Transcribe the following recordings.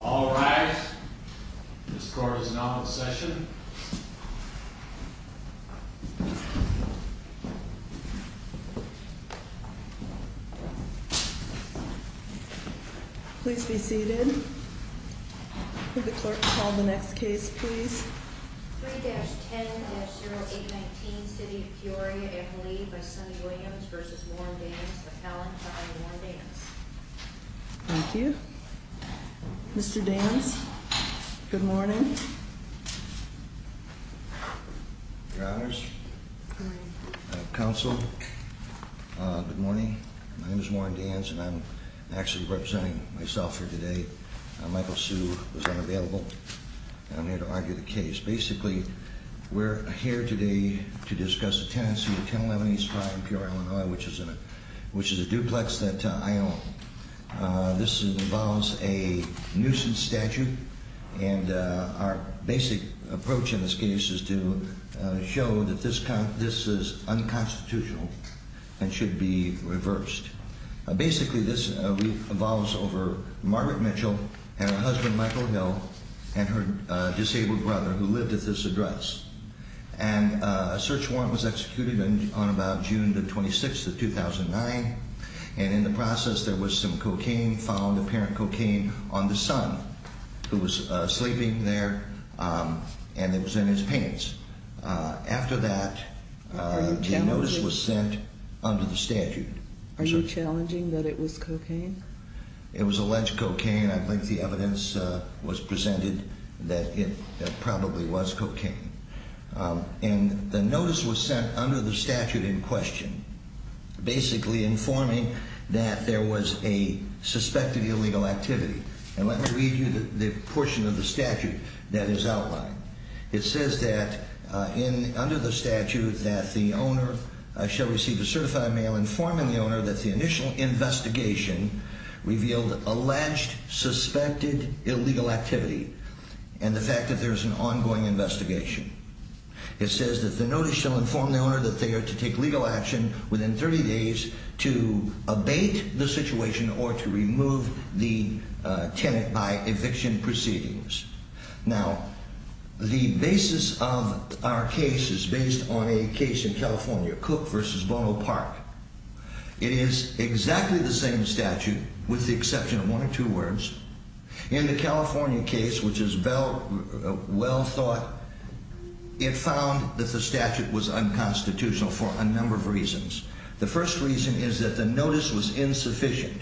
All rise. This court is now in session. Please be seated. The clerk called the next case, please. 3-10-08-19 City of Peoria and Lee v. Williams v. Warren Danz. Thank you. Mr. Danz, good morning. Your honors. Counsel. Good morning. My name is Warren Danz and I'm actually representing myself here today. Michael Hsu was unavailable and I'm here to argue the case. Basically, we're here today to discuss a tenancy, 10-11-85 in Peoria, Illinois, which is a duplex that I own. This involves a nuisance statute and our basic approach in this case is to show that this is unconstitutional and should be reversed. Basically, this involves over Margaret Mitchell and her husband Michael Hill and her disabled brother who lived at this address. A search warrant was executed on about June 26, 2009. In the process, there was some cocaine found, apparent cocaine, on the son who was sleeping there and it was in his pants. After that, the notice was sent under the statute. Are you challenging that it was cocaine? It was alleged cocaine. I think the evidence was presented that it probably was cocaine. The notice was sent under the statute in question, basically informing that there was a suspected illegal activity. Let me read you the portion of the statute that is outlined. It says that under the statute that the owner shall receive a certified mail informing the owner that the initial investigation revealed alleged suspected illegal activity and the fact that there is an ongoing investigation. It says that the notice shall inform the owner that they are to take legal action within 30 days to abate the situation or to remove the tenant by eviction proceedings. Now, the basis of our case is based on a case in California, Cook v. Bono Park. It is exactly the same statute with the exception of one or two words. In the California case, which is well thought, it found that the statute was unconstitutional for a number of reasons. The first reason is that the notice was insufficient.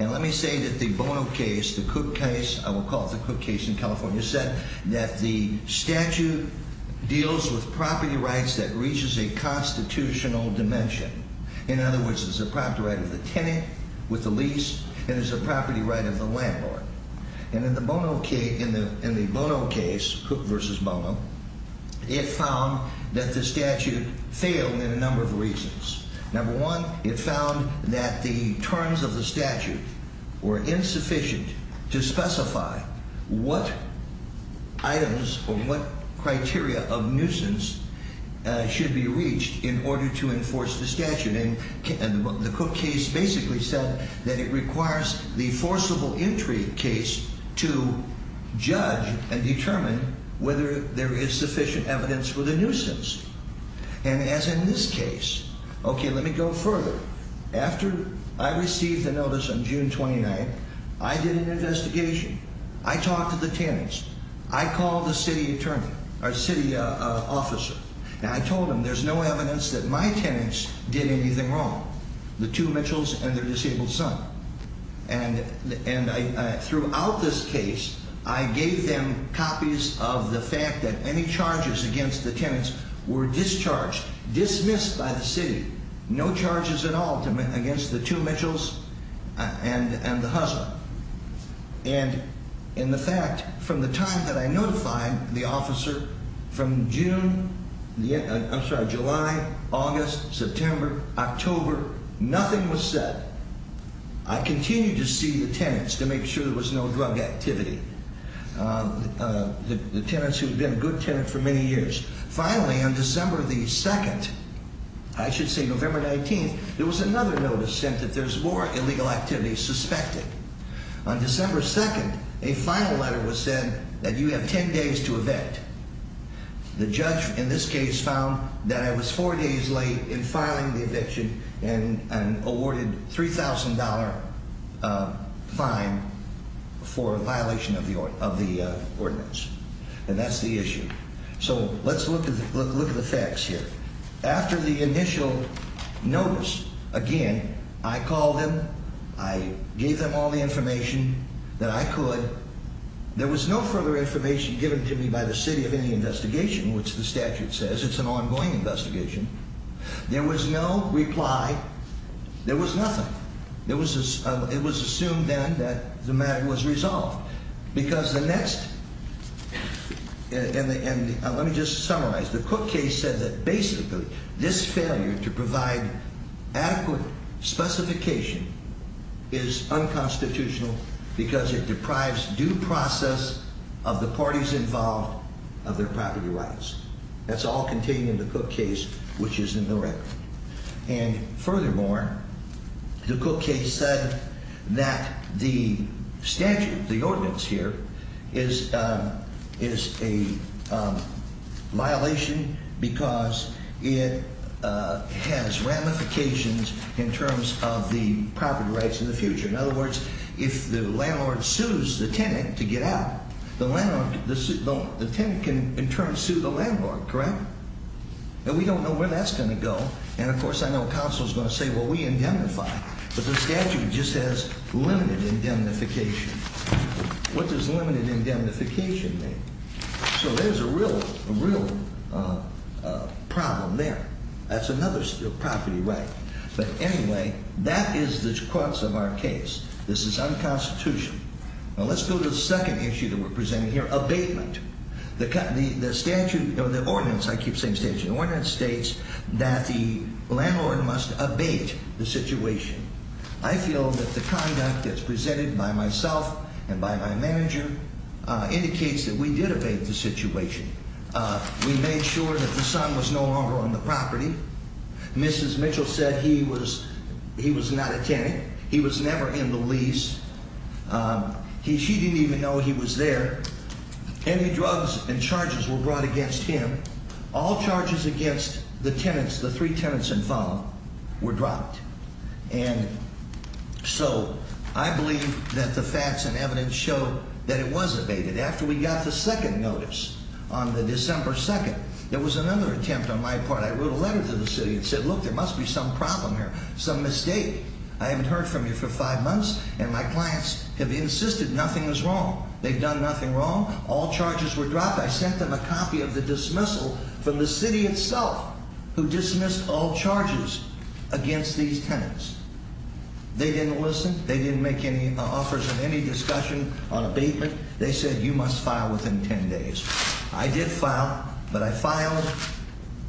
And let me say that the Bono case, the Cook case, I will call it the Cook case in California, said that the statute deals with property rights that reaches a constitutional dimension. In other words, it's a property right of the tenant with the lease and it's a property right of the landlord. And in the Bono case, Cook v. Bono, it found that the statute failed in a number of reasons. Number one, it found that the terms of the statute were insufficient to specify what items or what criteria of nuisance should be reached in order to enforce the statute. And the Cook case basically said that it requires the forcible entry case to judge and determine whether there is sufficient evidence for the nuisance. And as in this case, okay, let me go further. After I received the notice on June 29th, I did an investigation. I talked to the tenants. I called the city attorney or city officer. And I told him there's no evidence that my tenants did anything wrong, the two Mitchells and their disabled son. And throughout this case, I gave them copies of the fact that any charges against the tenants were discharged, dismissed by the city. No charges at all against the two Mitchells and the husband. And in the fact from the time that I notified the officer from June, I'm sorry, July, August, September, October, nothing was said. I continue to see the tenants to make sure there was no drug activity. The tenants who have been a good tenant for many years. Finally, on December the 2nd, I should say November 19th, there was another notice sent that there's more illegal activity suspected. On December 2nd, a final letter was sent that you have 10 days to evict. The judge in this case found that I was four days late in filing the eviction and awarded $3,000 fine for violation of the ordinance. And that's the issue. So let's look at the facts here. After the initial notice, again, I called him. I gave them all the information that I could. There was no further information given to me by the city of any investigation, which the statute says it's an ongoing investigation. There was no reply. There was nothing. It was assumed then that the matter was resolved. Because the next, and let me just summarize. The Cook case said that basically this failure to provide adequate specification is unconstitutional because it deprives due process of the parties involved of their property rights. That's all contained in the Cook case, which is indirect. And furthermore, the Cook case said that the statute, the ordinance here, is a violation because it has ramifications in terms of the property rights in the future. In other words, if the landlord sues the tenant to get out, the tenant can in turn sue the landlord, correct? And we don't know where that's going to go. And, of course, I know counsel is going to say, well, we indemnify. But the statute just says limited indemnification. What does limited indemnification mean? So there's a real problem there. That's another property right. But anyway, that is the crux of our case. This is unconstitutional. Now, let's go to the second issue that we're presenting here, abatement. The statute, the ordinance, I keep saying statute, the ordinance states that the landlord must abate the situation. I feel that the conduct that's presented by myself and by my manager indicates that we did abate the situation. We made sure that the son was no longer on the property. Mrs. Mitchell said he was not a tenant. He was never in the lease. She didn't even know he was there. Any drugs and charges were brought against him. All charges against the tenants, the three tenants involved, were dropped. And so I believe that the facts and evidence show that it was abated. After we got the second notice on the December 2nd, there was another attempt on my part. I wrote a letter to the city and said, look, there must be some problem here, some mistake. I haven't heard from you for five months, and my clients have insisted nothing is wrong. They've done nothing wrong. All charges were dropped. I sent them a copy of the dismissal from the city itself, who dismissed all charges against these tenants. They didn't listen. They didn't make any offers of any discussion on abatement. They said you must file within 10 days. I did file, but I filed.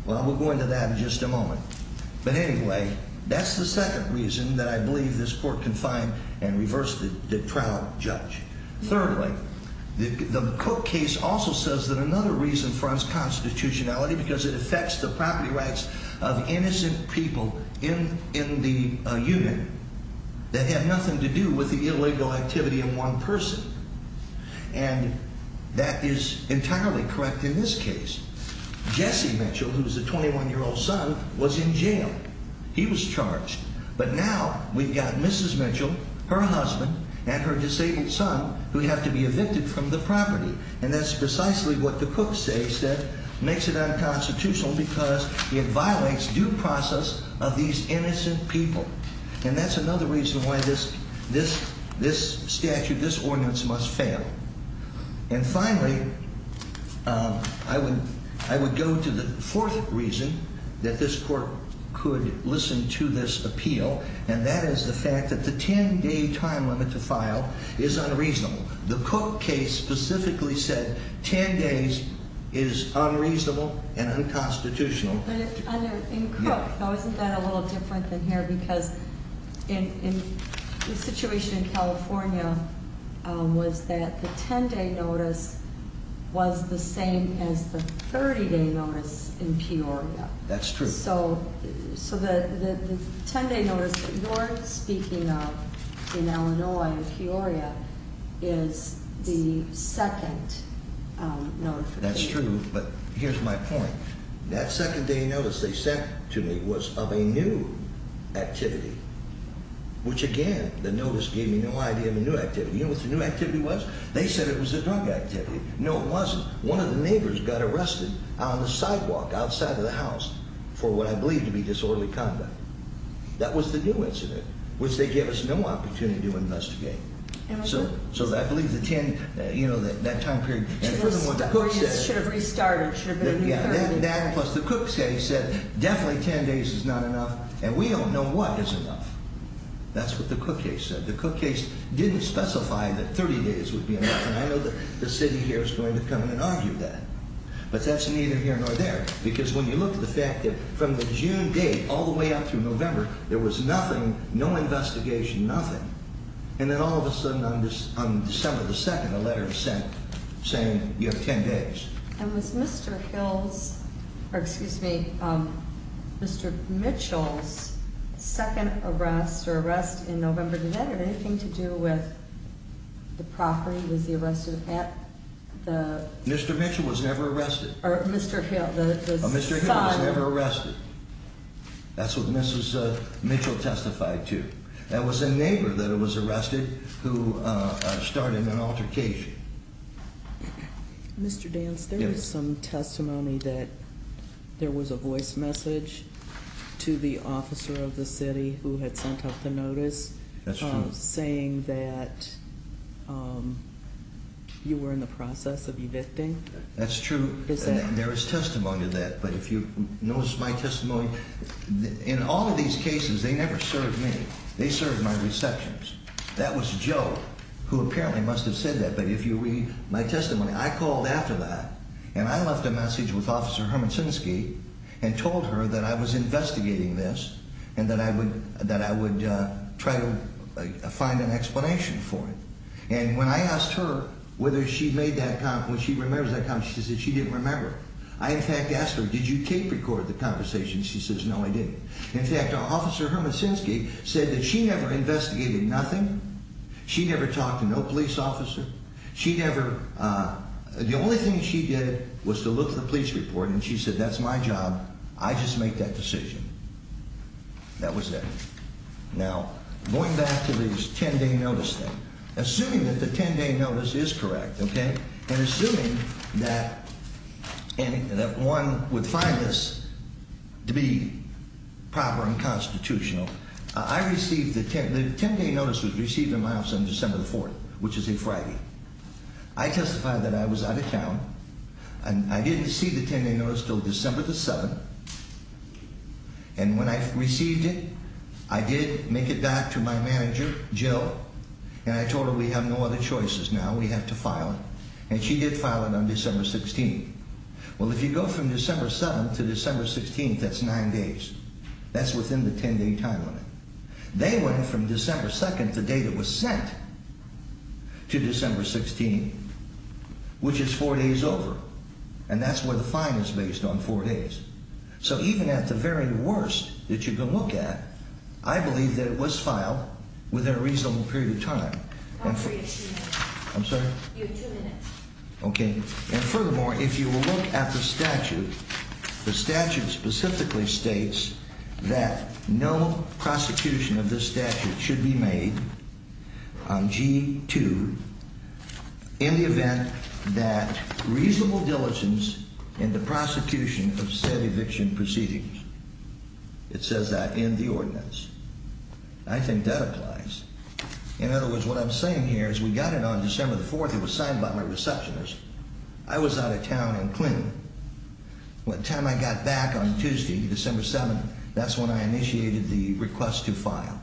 Well, we'll go into that in just a moment. But anyway, that's the second reason that I believe this court can find and reverse the trial judge. Thirdly, the Cook case also says that another reason fronts constitutionality, because it affects the property rights of innocent people in the unit that have nothing to do with the illegal activity of one person. And that is entirely correct in this case. Jesse Mitchell, who is a 21-year-old son, was in jail. He was charged. But now we've got Mrs. Mitchell, her husband, and her disabled son who have to be evicted from the property. And that's precisely what the Cook case said makes it unconstitutional because it violates due process of these innocent people. And that's another reason why this statute, this ordinance must fail. And finally, I would go to the fourth reason that this court could listen to this appeal, and that is the fact that the 10-day time limit to file is unreasonable. The Cook case specifically said 10 days is unreasonable and unconstitutional. In Cook, now isn't that a little different than here? Because the situation in California was that the 10-day notice was the same as the 30-day notice in Peoria. That's true. So the 10-day notice that you're speaking of in Illinois, in Peoria, is the second notification. That's true, but here's my point. That second day notice they sent to me was of a new activity, which again, the notice gave me no idea of a new activity. You know what the new activity was? They said it was a drug activity. No, it wasn't. One of the neighbors got arrested on the sidewalk outside of the house for what I believe to be disorderly conduct. That was the new incident, which they gave us no opportunity to investigate. So I believe the 10, you know, that time period. Peoria should have restarted. Yeah, that and plus the Cook case said definitely 10 days is not enough, and we don't know what is enough. That's what the Cook case said. The Cook case didn't specify that 30 days would be enough, and I know that the city here is going to come in and argue that. But that's neither here nor there, because when you look at the fact that from the June date all the way up to November, there was nothing, no investigation, nothing. And then all of a sudden on December the 2nd, a letter was sent saying you have 10 days. And was Mr. Hill's, or excuse me, Mr. Mitchell's second arrest or arrest in November, did that have anything to do with the property? Was he arrested at the? Mr. Mitchell was never arrested. Or Mr. Hill, the son. Mr. Hill was never arrested. That's what Mrs. Mitchell testified to. That was a neighbor that was arrested who started an altercation. Mr. Dance, there is some testimony that there was a voice message to the officer of the city who had sent out the notice. That's true. Saying that you were in the process of evicting. That's true. There is testimony to that. But if you notice my testimony, in all of these cases, they never served me. They served my receptions. That was Joe, who apparently must have said that. But if you read my testimony, I called after that. And I left a message with Officer Hermansonski and told her that I was investigating this and that I would try to find an explanation for it. And when I asked her whether she made that comment, whether she remembers that comment, she said she didn't remember. I, in fact, asked her, did you tape record the conversation? She says, no, I didn't. In fact, Officer Hermansonski said that she never investigated nothing. She never talked to no police officer. She never. The only thing she did was to look at the police report and she said, that's my job. I just make that decision. That was it. Now, going back to this 10 day notice thing, assuming that the 10 day notice is correct. And assuming that one would find this to be proper and constitutional. I received the 10 day notice was received in my office on December 4th, which is a Friday. I testified that I was out of town and I didn't see the 10 day notice until December 7th. And when I received it, I did make it back to my manager, Joe. And I told him we have no other choices now. We have to file. And she did file it on December 16th. Well, if you go from December 7th to December 16th, that's nine days. That's within the 10 day time limit. They went from December 2nd, the date it was sent to December 16th, which is four days over. And that's where the fine is based on four days. So even at the very worst that you can look at, I believe that it was filed within a reasonable period of time. I'm sorry? You have two minutes. Okay. And furthermore, if you will look at the statute, the statute specifically states that no prosecution of this statute should be made on G2. In the event that reasonable diligence in the prosecution of said eviction proceedings. It says that in the ordinance. I think that applies. In other words, what I'm saying here is we got it on December 4th. It was signed by my receptionist. I was out of town in Clinton. By the time I got back on Tuesday, December 7th, that's when I initiated the request to file.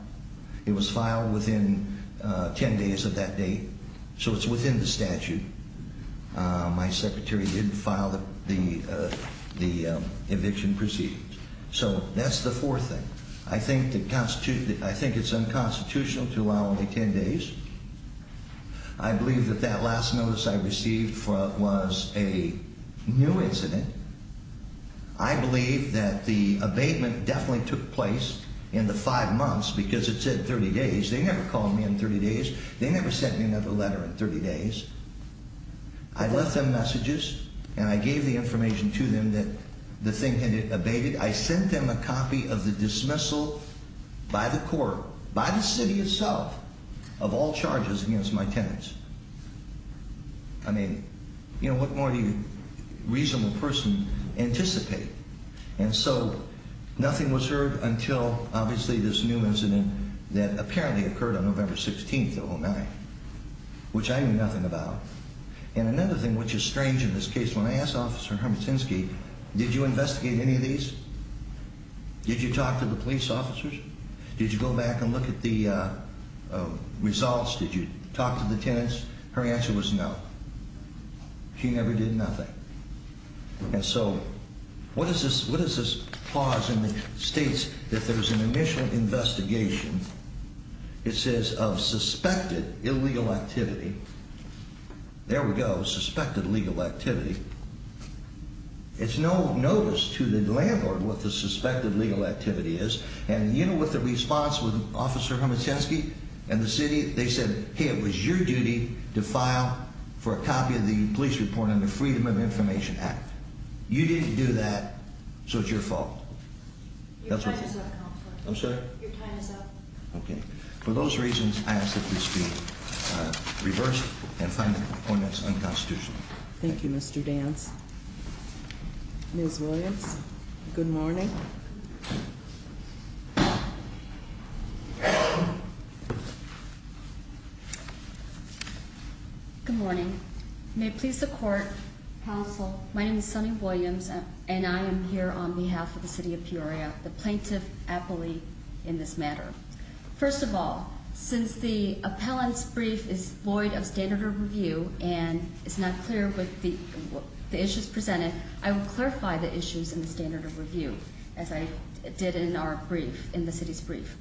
It was filed within 10 days of that date. So it's within the statute. My secretary did file the eviction proceedings. So that's the fourth thing. I think it's unconstitutional to allow only 10 days. I believe that that last notice I received was a new incident. I believe that the abatement definitely took place in the five months because it said 30 days. They never called me in 30 days. They never sent me another letter in 30 days. I left them messages, and I gave the information to them that the thing had abated. I sent them a copy of the dismissal by the court, by the city itself, of all charges against my tenants. I mean, you know, what more do you reasonable person anticipate? And so nothing was heard until, obviously, this new incident that apparently occurred on November 16th, 2009, which I knew nothing about. And another thing which is strange in this case, when I asked Officer Hermitinsky, did you investigate any of these? Did you talk to the police officers? Did you go back and look at the results? Did you talk to the tenants? Her answer was no. She never did nothing. And so what is this clause that states that there was an initial investigation? It says of suspected illegal activity. There we go, suspected legal activity. It's no notice to the landlord what the suspected legal activity is. And you know what the response was, Officer Hermitinsky and the city? They said, hey, it was your duty to file for a copy of the police report under Freedom of Information Act. You didn't do that, so it's your fault. Your time is up, Counselor. I'm sorry? Your time is up. Okay. For those reasons, I ask that we speak reversed and find the components unconstitutional. Thank you, Mr. Dance. Ms. Williams, good morning. Good morning. May it please the Court, Counsel, my name is Sunny Williams, and I am here on behalf of the city of Peoria, the plaintiff appellee in this matter. First of all, since the appellant's brief is void of standard of review and is not clear with the issues presented, I will clarify the issues in the standard of review as I did in our brief, in the city's brief.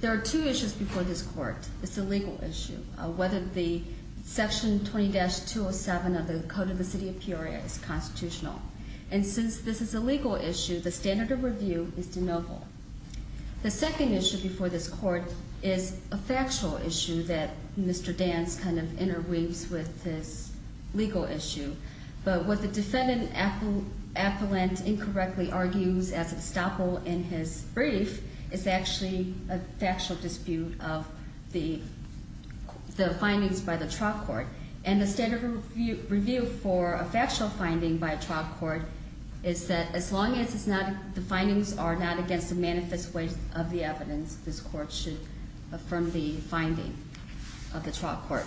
There are two issues before this Court. The first is a legal issue, whether the Section 20-207 of the Code of the City of Peoria is constitutional. And since this is a legal issue, the standard of review is de novo. The second issue before this Court is a factual issue that Mr. Dance kind of interweaves with this legal issue. But what the defendant appellant incorrectly argues as estoppel in his brief is actually a factual dispute of the findings by the trial court. And the standard of review for a factual finding by a trial court is that as long as the findings are not against the manifest way of the evidence, this Court should affirm the finding of the trial court.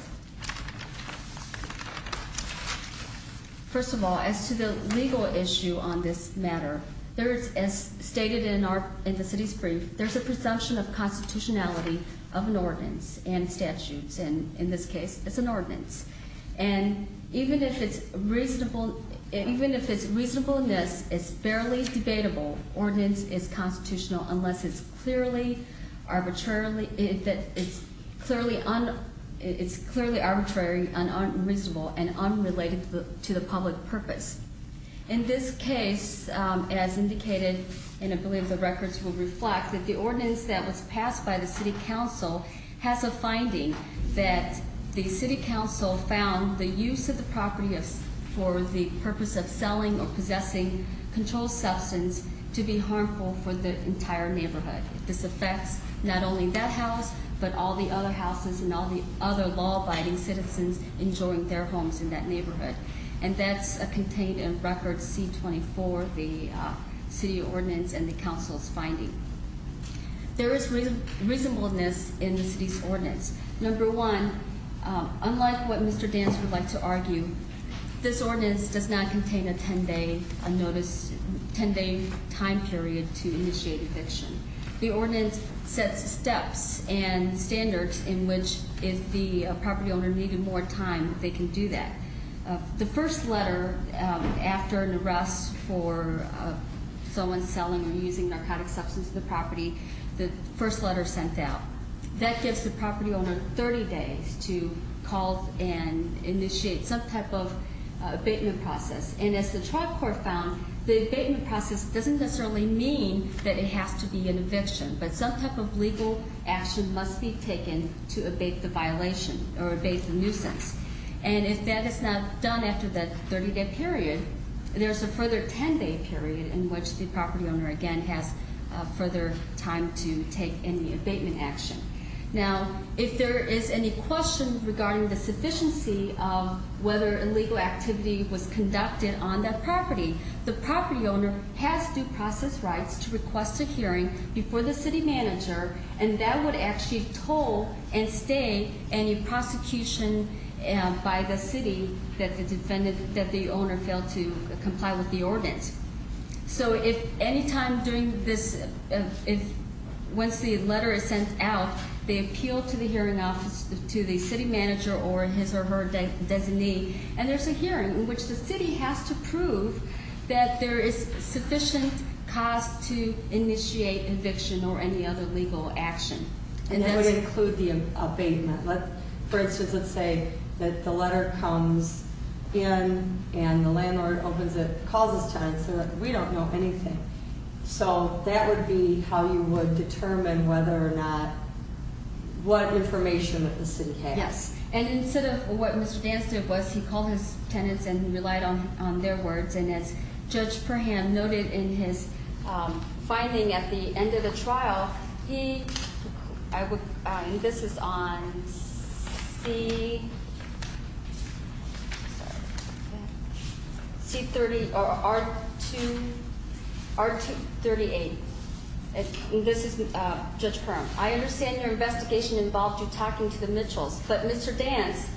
First of all, as to the legal issue on this matter, as stated in the city's brief, there's a presumption of constitutionality of an ordinance and statutes. And in this case, it's an ordinance. And even if its reasonableness is barely debatable, ordinance is constitutional unless it's clearly arbitrary and unreasonable and unrelated to the public purpose. In this case, as indicated, and I believe the records will reflect, the ordinance that was passed by the city council has a finding that the city council found the use of the property for the purpose of selling or possessing controlled substance to be harmful for the entire neighborhood. This affects not only that house, but all the other houses and all the other law-abiding citizens enjoying their homes in that neighborhood. And that's contained in record C-24, the city ordinance and the council's finding. There is reasonableness in the city's ordinance. Number one, unlike what Mr. Dance would like to argue, this ordinance does not contain a 10-day notice, 10-day time period to initiate eviction. The ordinance sets steps and standards in which if the property owner needed more time, they can do that. The first letter after an arrest for someone selling or using narcotic substance to the property, the first letter sent out. That gives the property owner 30 days to call and initiate some type of abatement process. And as the trial court found, the abatement process doesn't necessarily mean that it has to be an eviction, but some type of legal action must be taken to abate the violation or abate the nuisance. And if that is not done after that 30-day period, there's a further 10-day period in which the property owner, again, has further time to take any abatement action. Now, if there is any question regarding the sufficiency of whether illegal activity was conducted on that property, the property owner has due process rights to request a hearing before the city manager, and that would actually toll and stay any prosecution by the city that the owner failed to comply with the ordinance. So if any time during this, once the letter is sent out, they appeal to the hearing office, to the city manager or his or her designee, and there's a hearing in which the city has to prove that there is sufficient cause to initiate eviction or any other legal action. And that would include the abatement. For instance, let's say that the letter comes in and the landlord opens it, calls his tenants, and we don't know anything. So that would be how you would determine whether or not what information that the city has. Yes, and instead of what Mr. Danstad was, he called his tenants and relied on their words, and as Judge Perham noted in his finding at the end of the trial, he, and this is on C30 or R2, R2-38, and this is Judge Perham. I understand your investigation involved you talking to the Mitchells, but Mr. Danst,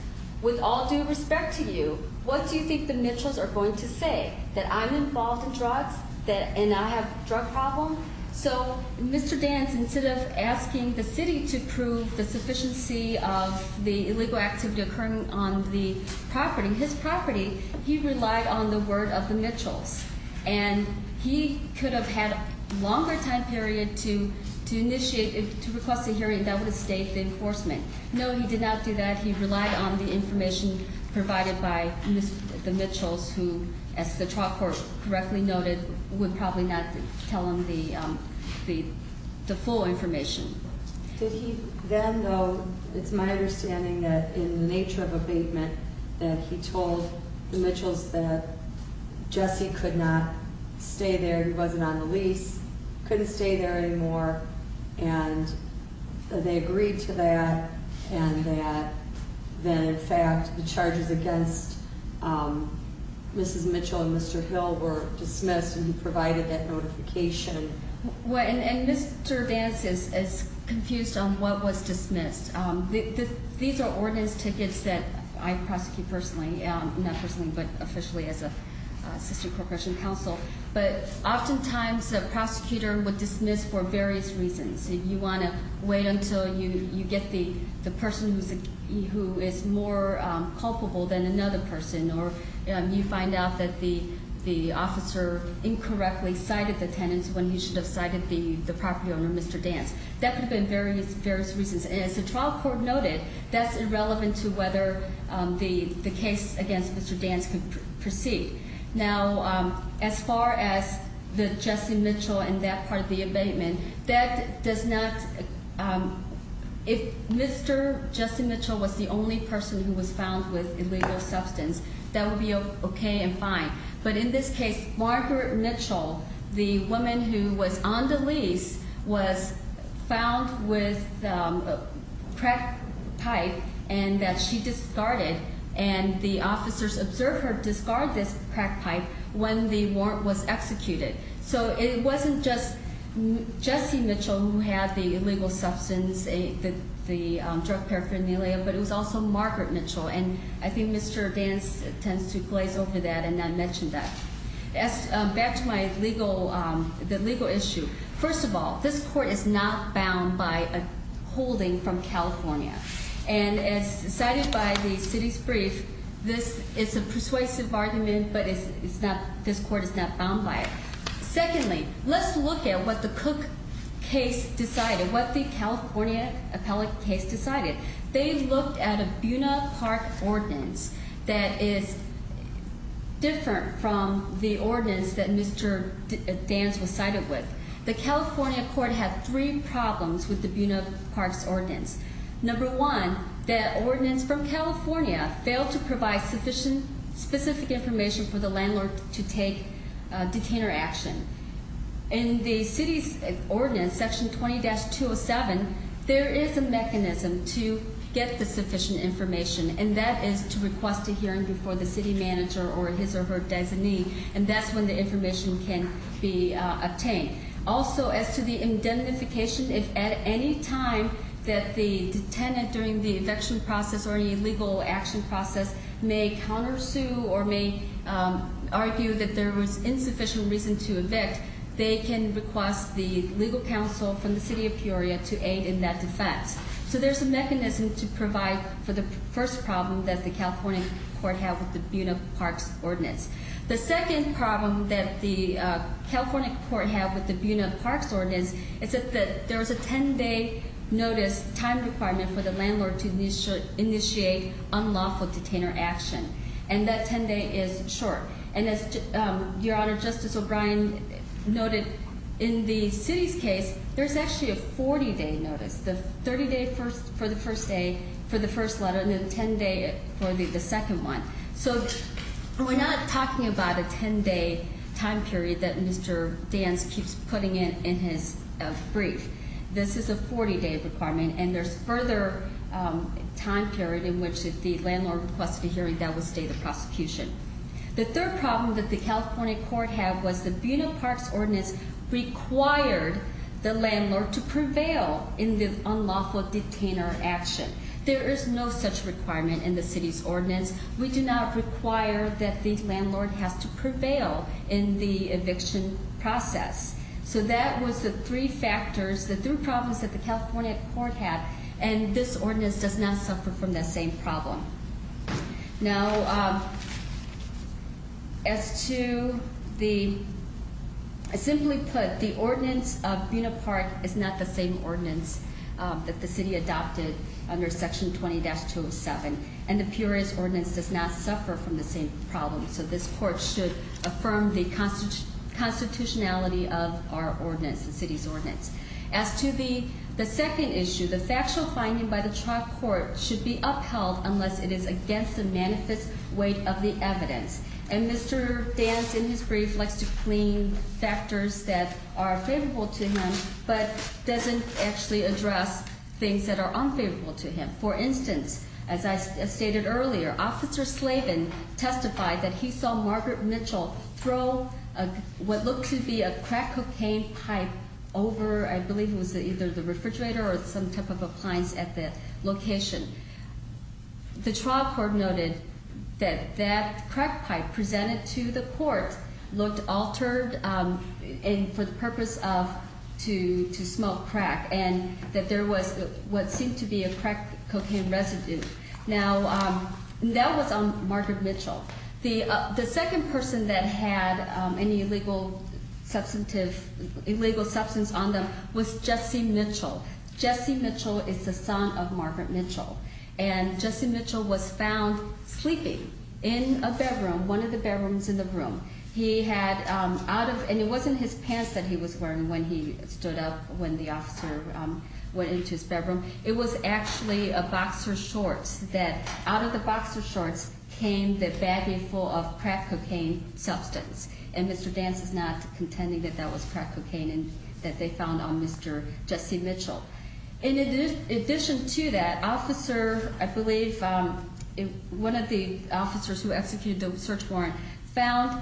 with all due respect to you, what do you think the Mitchells are going to say, that I'm involved in drugs and I have a drug problem? So Mr. Danst, instead of asking the city to prove the sufficiency of the illegal activity occurring on the property, his property, he relied on the word of the Mitchells, and he could have had a longer time period to initiate, to request a hearing that would have stayed the enforcement. No, he did not do that. He relied on the information provided by the Mitchells who, as the trial court correctly noted, would probably not tell him the full information. Did he then, though, it's my understanding that in the nature of abatement, that he told the Mitchells that Jesse could not stay there, he wasn't on the lease, couldn't stay there anymore, and they agreed to that, and that in fact the charges against Mrs. Mitchell and Mr. Hill were dismissed, and he provided that notification. And Mr. Danst is confused on what was dismissed. These are ordinance tickets that I prosecute personally, not personally, but officially as an assistant corporation counsel, but oftentimes a prosecutor would dismiss for various reasons. You want to wait until you get the person who is more culpable than another person, or you find out that the officer incorrectly cited the tenants when he should have cited the property owner, Mr. Danst. That could have been various reasons. And as the trial court noted, that's irrelevant to whether the case against Mr. Danst could proceed. Now, as far as the Jesse Mitchell and that part of the abatement, that does not, if Mr. Jesse Mitchell was the only person who was found with illegal substance, that would be okay and fine. But in this case, Margaret Mitchell, the woman who was on the lease, was found with a crack pipe and that she discarded. And the officers observed her discard this crack pipe when the warrant was executed. So it wasn't just Jesse Mitchell who had the illegal substance, the drug paraphernalia, but it was also Margaret Mitchell. And I think Mr. Danst tends to glaze over that and not mention that. Back to my legal issue. First of all, this court is not bound by a holding from California. And as cited by the city's brief, this is a persuasive argument, but this court is not bound by it. Secondly, let's look at what the Cook case decided, what the California appellate case decided. They looked at a Buena Park ordinance that is different from the ordinance that Mr. Danst was cited with. The California court had three problems with the Buena Park's ordinance. Number one, that ordinance from California failed to provide specific information for the landlord to take detainer action. In the city's ordinance, section 20-207, there is a mechanism to get the sufficient information, and that is to request a hearing before the city manager or his or her designee, and that's when the information can be obtained. Also, as to the indemnification, if at any time that the detainee during the eviction process or they can request the legal counsel from the city of Peoria to aid in that defense. So there's a mechanism to provide for the first problem that the California court had with the Buena Park's ordinance. The second problem that the California court had with the Buena Park's ordinance is that there was a 10-day notice time requirement for the landlord to initiate unlawful detainer action, and that 10-day is short. And as Your Honor, Justice O'Brien noted, in the city's case, there's actually a 40-day notice. The 30-day for the first day for the first letter, and the 10-day for the second one. So we're not talking about a 10-day time period that Mr. Dance keeps putting in his brief. This is a 40-day requirement, and there's further time period in which if the landlord requested a hearing, that would stay the prosecution. The third problem that the California court had was the Buena Park's ordinance required the landlord to prevail in the unlawful detainer action. There is no such requirement in the city's ordinance. We do not require that the landlord has to prevail in the eviction process. So that was the three factors, the three problems that the California court had, and this ordinance does not suffer from that same problem. Now, as to the, simply put, the ordinance of Buena Park is not the same ordinance that the city adopted under Section 20-207, and the Peoria's ordinance does not suffer from the same problem. So this court should affirm the constitutionality of our ordinance, the city's ordinance. As to the second issue, the factual finding by the trial court should be upheld unless it is against the manifest weight of the evidence. And Mr. Dance, in his brief, likes to claim factors that are favorable to him but doesn't actually address things that are unfavorable to him. For instance, as I stated earlier, Officer Slavin testified that he saw Margaret Mitchell throw what looked to be a crack cocaine pipe over, I believe it was either the refrigerator or some type of appliance at the location. The trial court noted that that crack pipe presented to the court looked altered for the purpose of to smoke crack, and that there was what seemed to be a crack cocaine residue. Now, that was on Margaret Mitchell. The second person that had any illegal substance on them was Jesse Mitchell. Jesse Mitchell is the son of Margaret Mitchell. And Jesse Mitchell was found sleeping in a bedroom, one of the bedrooms in the room. He had, out of, and it wasn't his pants that he was wearing when he stood up, when the officer went into his bedroom. It was actually a boxer shorts that, out of the boxer shorts came the baggie full of crack cocaine substance. And Mr. Dance is not contending that that was crack cocaine that they found on Mr. Jesse Mitchell. In addition to that, officer, I believe, one of the officers who executed the search warrant, found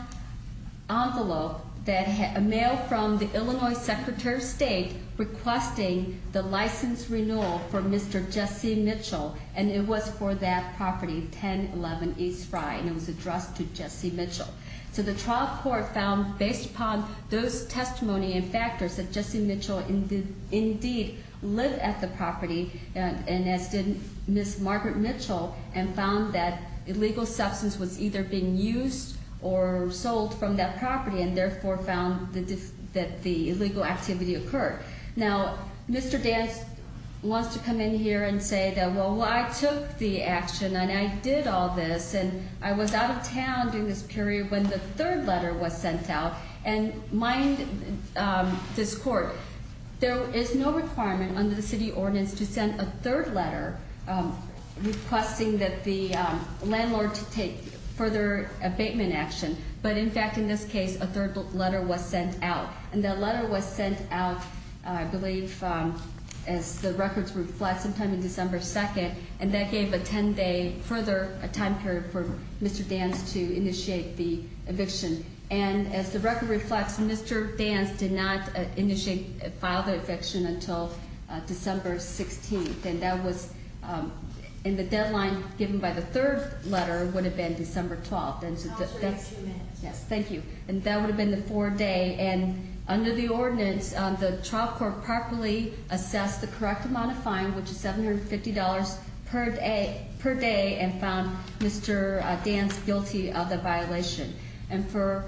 envelope that had a mail from the Illinois Secretary of State requesting the license renewal for Mr. Jesse Mitchell. And it was for that property, 1011 East Frye, and it was addressed to Jesse Mitchell. So the trial court found, based upon those testimony and factors, that Jesse Mitchell indeed lived at the property, and as did Ms. Margaret Mitchell, and found that illegal substance was either being used or sold from that property, and therefore found that the illegal activity occurred. Now, Mr. Dance wants to come in here and say that, well, I took the action, and I did all this, and I was out of town during this period when the third letter was sent out. And mind this court, there is no requirement under the city ordinance to send a third letter requesting that the landlord take further abatement action. But, in fact, in this case, a third letter was sent out. And that letter was sent out, I believe, as the records reflect, sometime in December 2nd, and that gave a 10-day further time period for Mr. Dance to initiate the eviction. And as the record reflects, Mr. Dance did not initiate, file the eviction until December 16th. And that was, and the deadline given by the third letter would have been December 12th. And so that's- No, it was within two minutes. Yes, thank you. And that would have been the four-day. And under the ordinance, the trial court properly assessed the correct amount of fine, which is $750 per day, and found Mr. Dance guilty of the violation. And for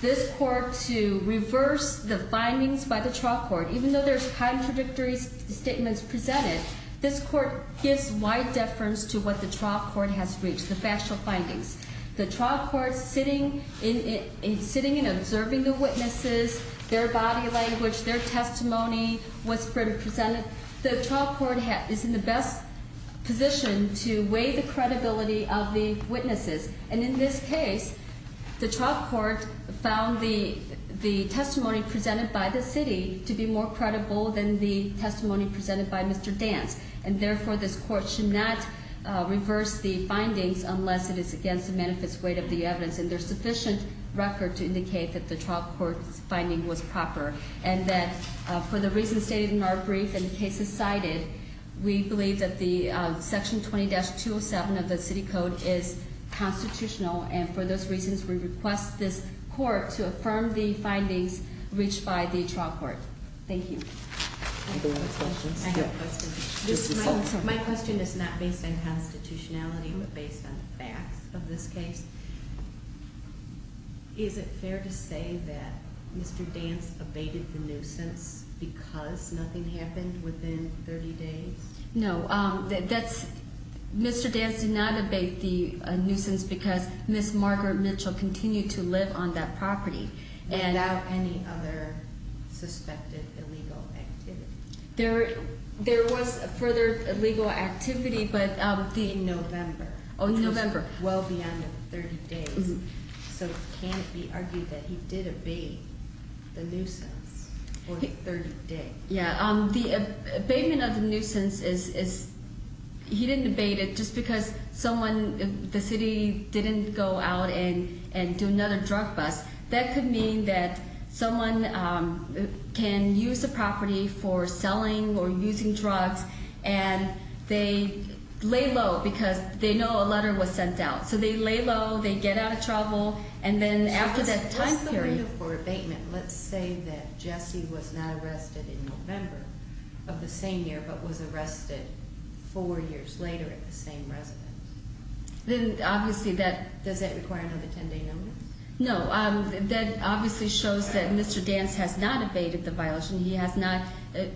this court to reverse the findings by the trial court, even though there's contradictory statements presented, this court gives wide deference to what the trial court has reached, the factual findings. The trial court, sitting and observing the witnesses, their body language, their testimony, what's been presented, the trial court is in the best position to weigh the credibility of the witnesses. And in this case, the trial court found the testimony presented by the city to be more credible than the testimony presented by Mr. Dance. And therefore, this court should not reverse the findings unless it is against the manifest weight of the evidence. And there's sufficient record to indicate that the trial court's finding was proper. And that for the reasons stated in our brief and the cases cited, we believe that the section 20-207 of the city code is constitutional. And for those reasons, we request this court to affirm the findings reached by the trial court. Thank you. Any other questions? I have a question. My question is not based on constitutionality, but based on the facts of this case. Is it fair to say that Mr. Dance abated the nuisance because nothing happened within 30 days? No, Mr. Dance did not abate the nuisance because Ms. Margaret Mitchell continued to live on that property. Without any other suspected illegal activity. There was further illegal activity, but- In November. Oh, in November. Which was well beyond the 30 days. So can it be argued that he did abate the nuisance for the 30 days? Yeah, the abatement of the nuisance is, he didn't abate it just because someone, the city didn't go out and do another drug bust. That could mean that someone can use the property for selling or using drugs, and they lay low because they know a letter was sent out. So they lay low, they get out of trouble, and then after that time period- So what's the window for abatement? Let's say that Jesse was not arrested in November of the same year, but was arrested four years later at the same residence. Then obviously that- Does that require another 10-day notice? No, that obviously shows that Mr. Dance has not abated the violation. He has not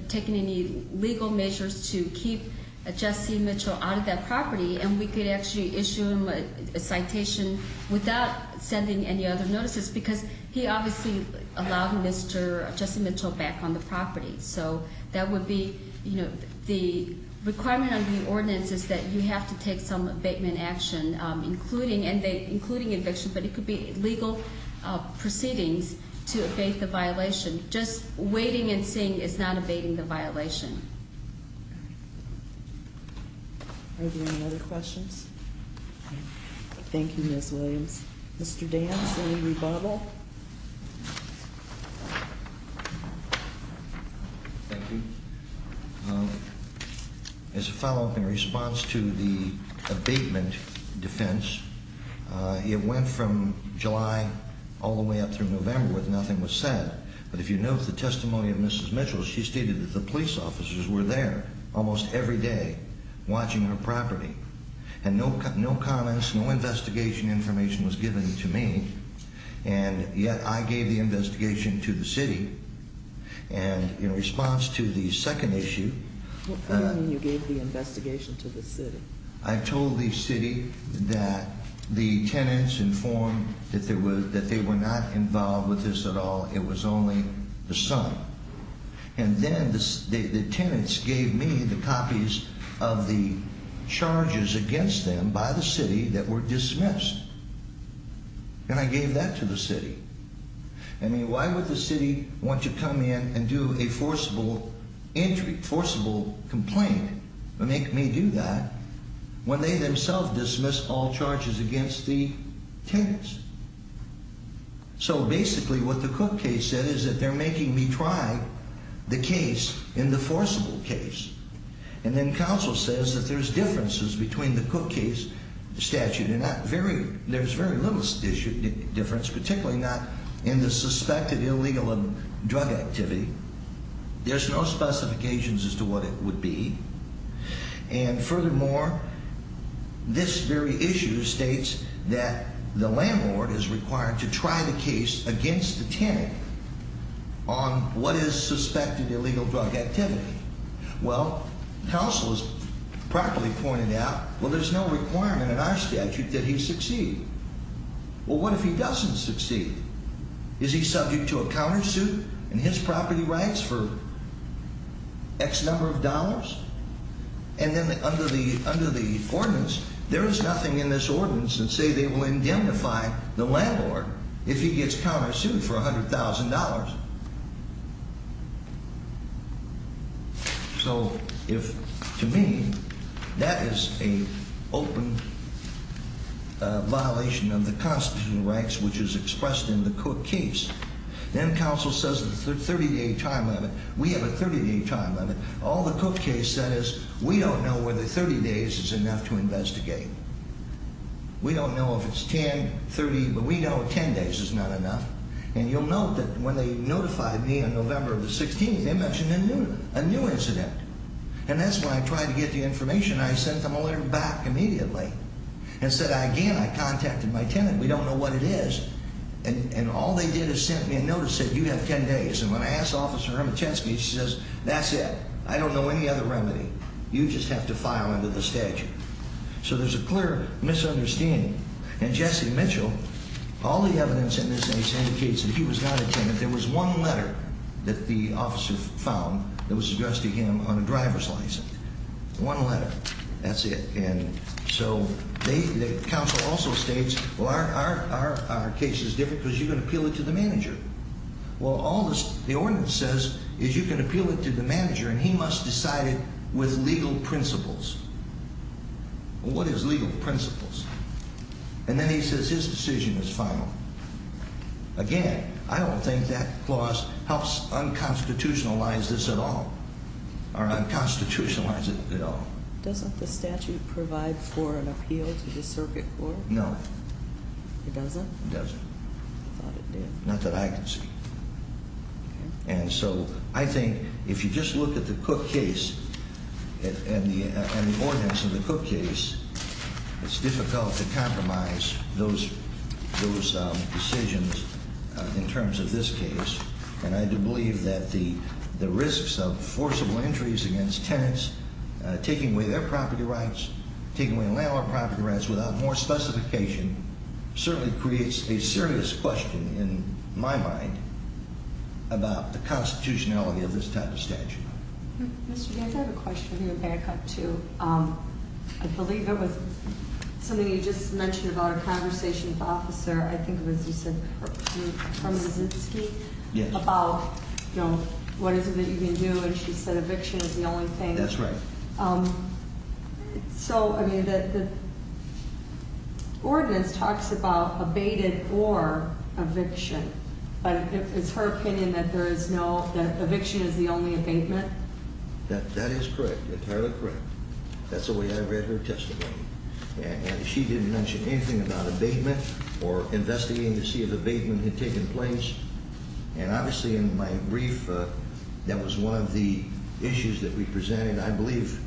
taken any legal measures to keep Jesse Mitchell out of that property. And we could actually issue him a citation without sending any other notices because he obviously allowed Mr. Jesse Mitchell back on the property. So that would be, you know, the requirement of the ordinance is that you have to take some abatement action, including eviction. But it could be legal proceedings to abate the violation. Just waiting and seeing is not abating the violation. Are there any other questions? Thank you, Ms. Williams. Mr. Dance, any rebuttal? Thank you. As a follow-up, in response to the abatement defense, it went from July all the way up through November with nothing was said. But if you note the testimony of Mrs. Mitchell, she stated that the police officers were there almost every day watching her property. And no comments, no investigation information was given to me, and yet I gave the investigation to the city. And in response to the second issue. What do you mean you gave the investigation to the city? I told the city that the tenants informed that they were not involved with this at all. It was only the sum. And then the tenants gave me the copies of the charges against them by the city that were dismissed. And I gave that to the city. I mean, why would the city want to come in and do a forcible entry, forcible complaint and make me do that when they themselves dismissed all charges against the tenants? So basically what the Cook case said is that they're making me try the case in the forcible case. And then counsel says that there's differences between the Cook case statute. And there's very little difference, particularly not in the suspected illegal drug activity. There's no specifications as to what it would be. And furthermore, this very issue states that the landlord is required to try the case against the tenant on what is suspected illegal drug activity. Well, counsel has properly pointed out, well, there's no requirement in our statute that he succeed. Well, what if he doesn't succeed? Is he subject to a countersuit and his property rights for X number of dollars? And then under the ordinance, there is nothing in this ordinance that say they will indemnify the landlord if he gets countersued for $100,000. So if to me that is an open violation of the constitutional rights, which is expressed in the Cook case, then counsel says the 30-day time limit. We have a 30-day time limit. All the Cook case said is we don't know whether 30 days is enough to investigate. We don't know if it's 10, 30, but we know 10 days is not enough. And you'll note that when they notified me on November the 16th, they mentioned a new incident. And that's when I tried to get the information. I sent them a letter back immediately and said, again, I contacted my tenant. We don't know what it is. And all they did is sent me a notice that you have 10 days. And when I asked Officer Remitensky, she says, that's it. I don't know any other remedy. You just have to file under the statute. So there's a clear misunderstanding. And Jesse Mitchell, all the evidence in this case indicates that he was not a tenant. There was one letter that the officer found that was addressed to him on a driver's license. One letter. That's it. And so the counsel also states, well, our case is different because you're going to appeal it to the manager. Well, all the ordinance says is you can appeal it to the manager, and he must decide it with legal principles. What is legal principles? And then he says his decision is final. Again, I don't think that clause helps unconstitutionalize this at all or unconstitutionalize it at all. Doesn't the statute provide for an appeal to the circuit court? No. It doesn't? It doesn't. I thought it did. Not that I can see. And so I think if you just look at the Cook case and the ordinance of the Cook case, it's difficult to compromise those decisions in terms of this case. And I do believe that the risks of forcible entries against tenants, taking away their property rights, without more specification certainly creates a serious question in my mind about the constitutionality of this type of statute. Mr. Gates, I have a question I'm going to back up to. I believe it was something you just mentioned about a conversation with an officer. I think it was, you said, Herman Zinsky about what is it that you can do, and she said eviction is the only thing. That's right. So, I mean, the ordinance talks about abated or eviction, but it's her opinion that eviction is the only abatement? That is correct, entirely correct. That's the way I read her testimony. And she didn't mention anything about abatement or investigating to see if abatement had taken place. And obviously in my brief, that was one of the issues that we presented. I believe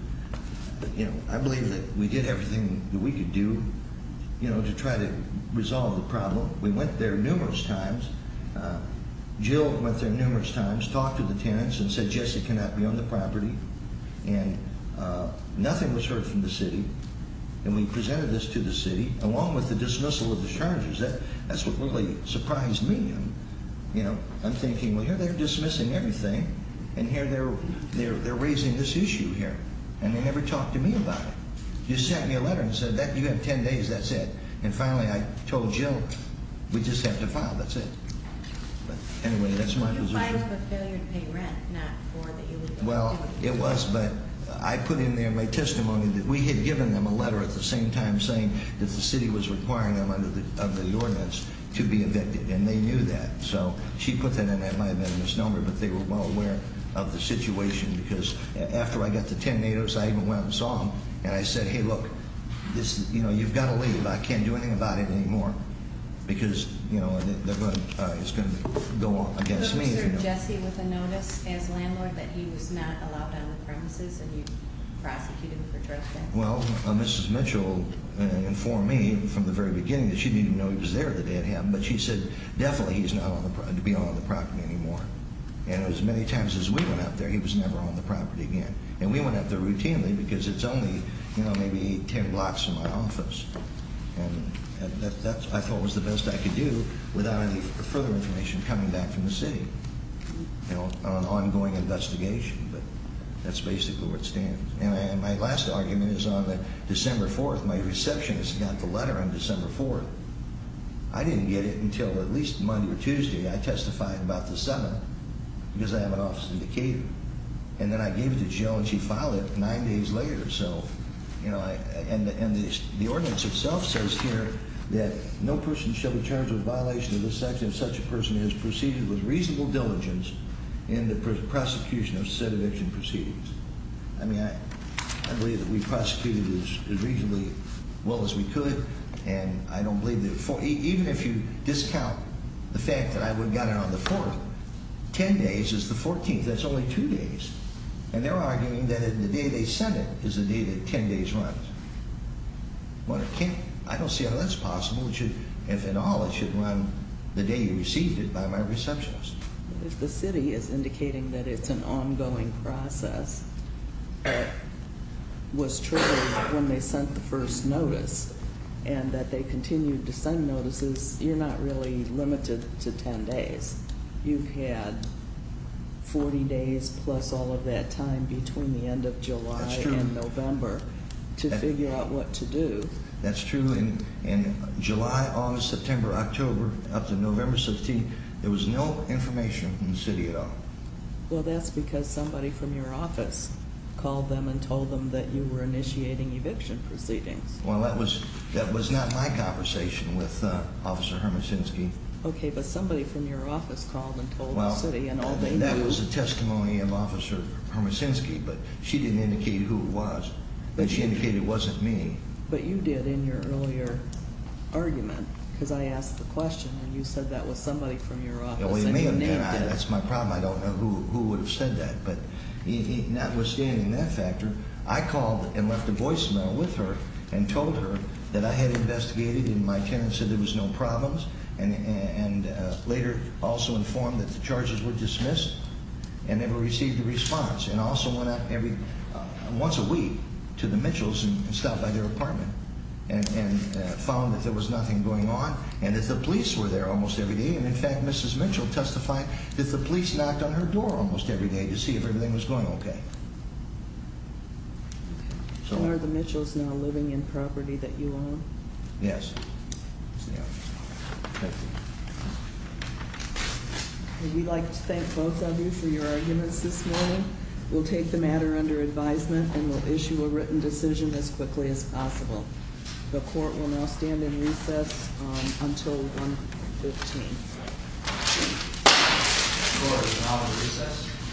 that we did everything that we could do to try to resolve the problem. We went there numerous times. Jill went there numerous times, talked to the tenants and said Jesse cannot be on the property. And nothing was heard from the city. And we presented this to the city, along with the dismissal of the charges. That's what really surprised me. I'm thinking, well, here they're dismissing everything, and here they're raising this issue here. And they never talked to me about it. You sent me a letter and said you have ten days, that's it. And finally I told Jill, we just have to file, that's it. Anyway, that's my position. You filed for failure to pay rent, not for that you were going to do it. Well, it was, but I put in there my testimony that we had given them a letter at the same time saying that the city was requiring them under the ordinance to be evicted. And they knew that. So she put that in there. It might have been a misnomer, but they were well aware of the situation. Because after I got the ten days, I even went and saw them. And I said, hey, look, you've got to leave. I can't do anything about it anymore. Because it's going to go against me. But was there Jesse with a notice as landlord that he was not allowed on the premises and you prosecuted him for trespassing? Well, Mrs. Mitchell informed me from the very beginning that she didn't even know he was there the day it happened. But she said definitely he's not allowed to be on the property anymore. And as many times as we went out there, he was never on the property again. And we went out there routinely because it's only, you know, maybe ten blocks from my office. And that I thought was the best I could do without any further information coming back from the city. You know, an ongoing investigation. But that's basically where it stands. And my last argument is on December 4th. My receptionist got the letter on December 4th. I didn't get it until at least Monday or Tuesday. I testified about the 7th because I have an office in Decatur. And then I gave it to Jill, and she filed it nine days later. So, you know, and the ordinance itself says here that no person shall be charged with violation of this section if such a person has proceeded with reasonable diligence in the prosecution of said eviction proceedings. I mean, I believe that we prosecuted as reasonably well as we could. And I don't believe that even if you discount the fact that I got it on the 4th, ten days is the 14th. That's only two days. And they're arguing that the day they sent it is the day that ten days runs. I don't see how that's possible. It should, if at all, it should run the day you received it by my receptionist. If the city is indicating that it's an ongoing process, was true when they sent the first notice and that they continued to send notices, you're not really limited to ten days. You've had 40 days plus all of that time between the end of July and November to figure out what to do. That's true. In July, August, September, October up to November 16th, there was no information from the city at all. Well, that's because somebody from your office called them and told them that you were initiating eviction proceedings. Well, that was not my conversation with Officer Hermosinski. Okay, but somebody from your office called and told the city and all they knew. That was a testimony of Officer Hermosinski, but she didn't indicate who it was. She indicated it wasn't me. But you did in your earlier argument because I asked the question and you said that was somebody from your office and you named it. That's my problem. I don't know who would have said that, but notwithstanding that factor, I called and left a voicemail with her and told her that I had investigated and my tenant said there was no problems and later also informed that the charges were dismissed and never received a response and also went out once a week to the Mitchells and stopped by their apartment and found that there was nothing going on and that the police were there almost every day. In fact, Mrs. Mitchell testified that the police knocked on her door almost every day to see if everything was going okay. Are the Mitchells now living in property that you own? Yes. Thank you. We'd like to thank both of you for your arguments this morning. We'll take the matter under advisement and we'll issue a written decision as quickly as possible. The court will now stand in recess until 1 p.m. The court is now in recess.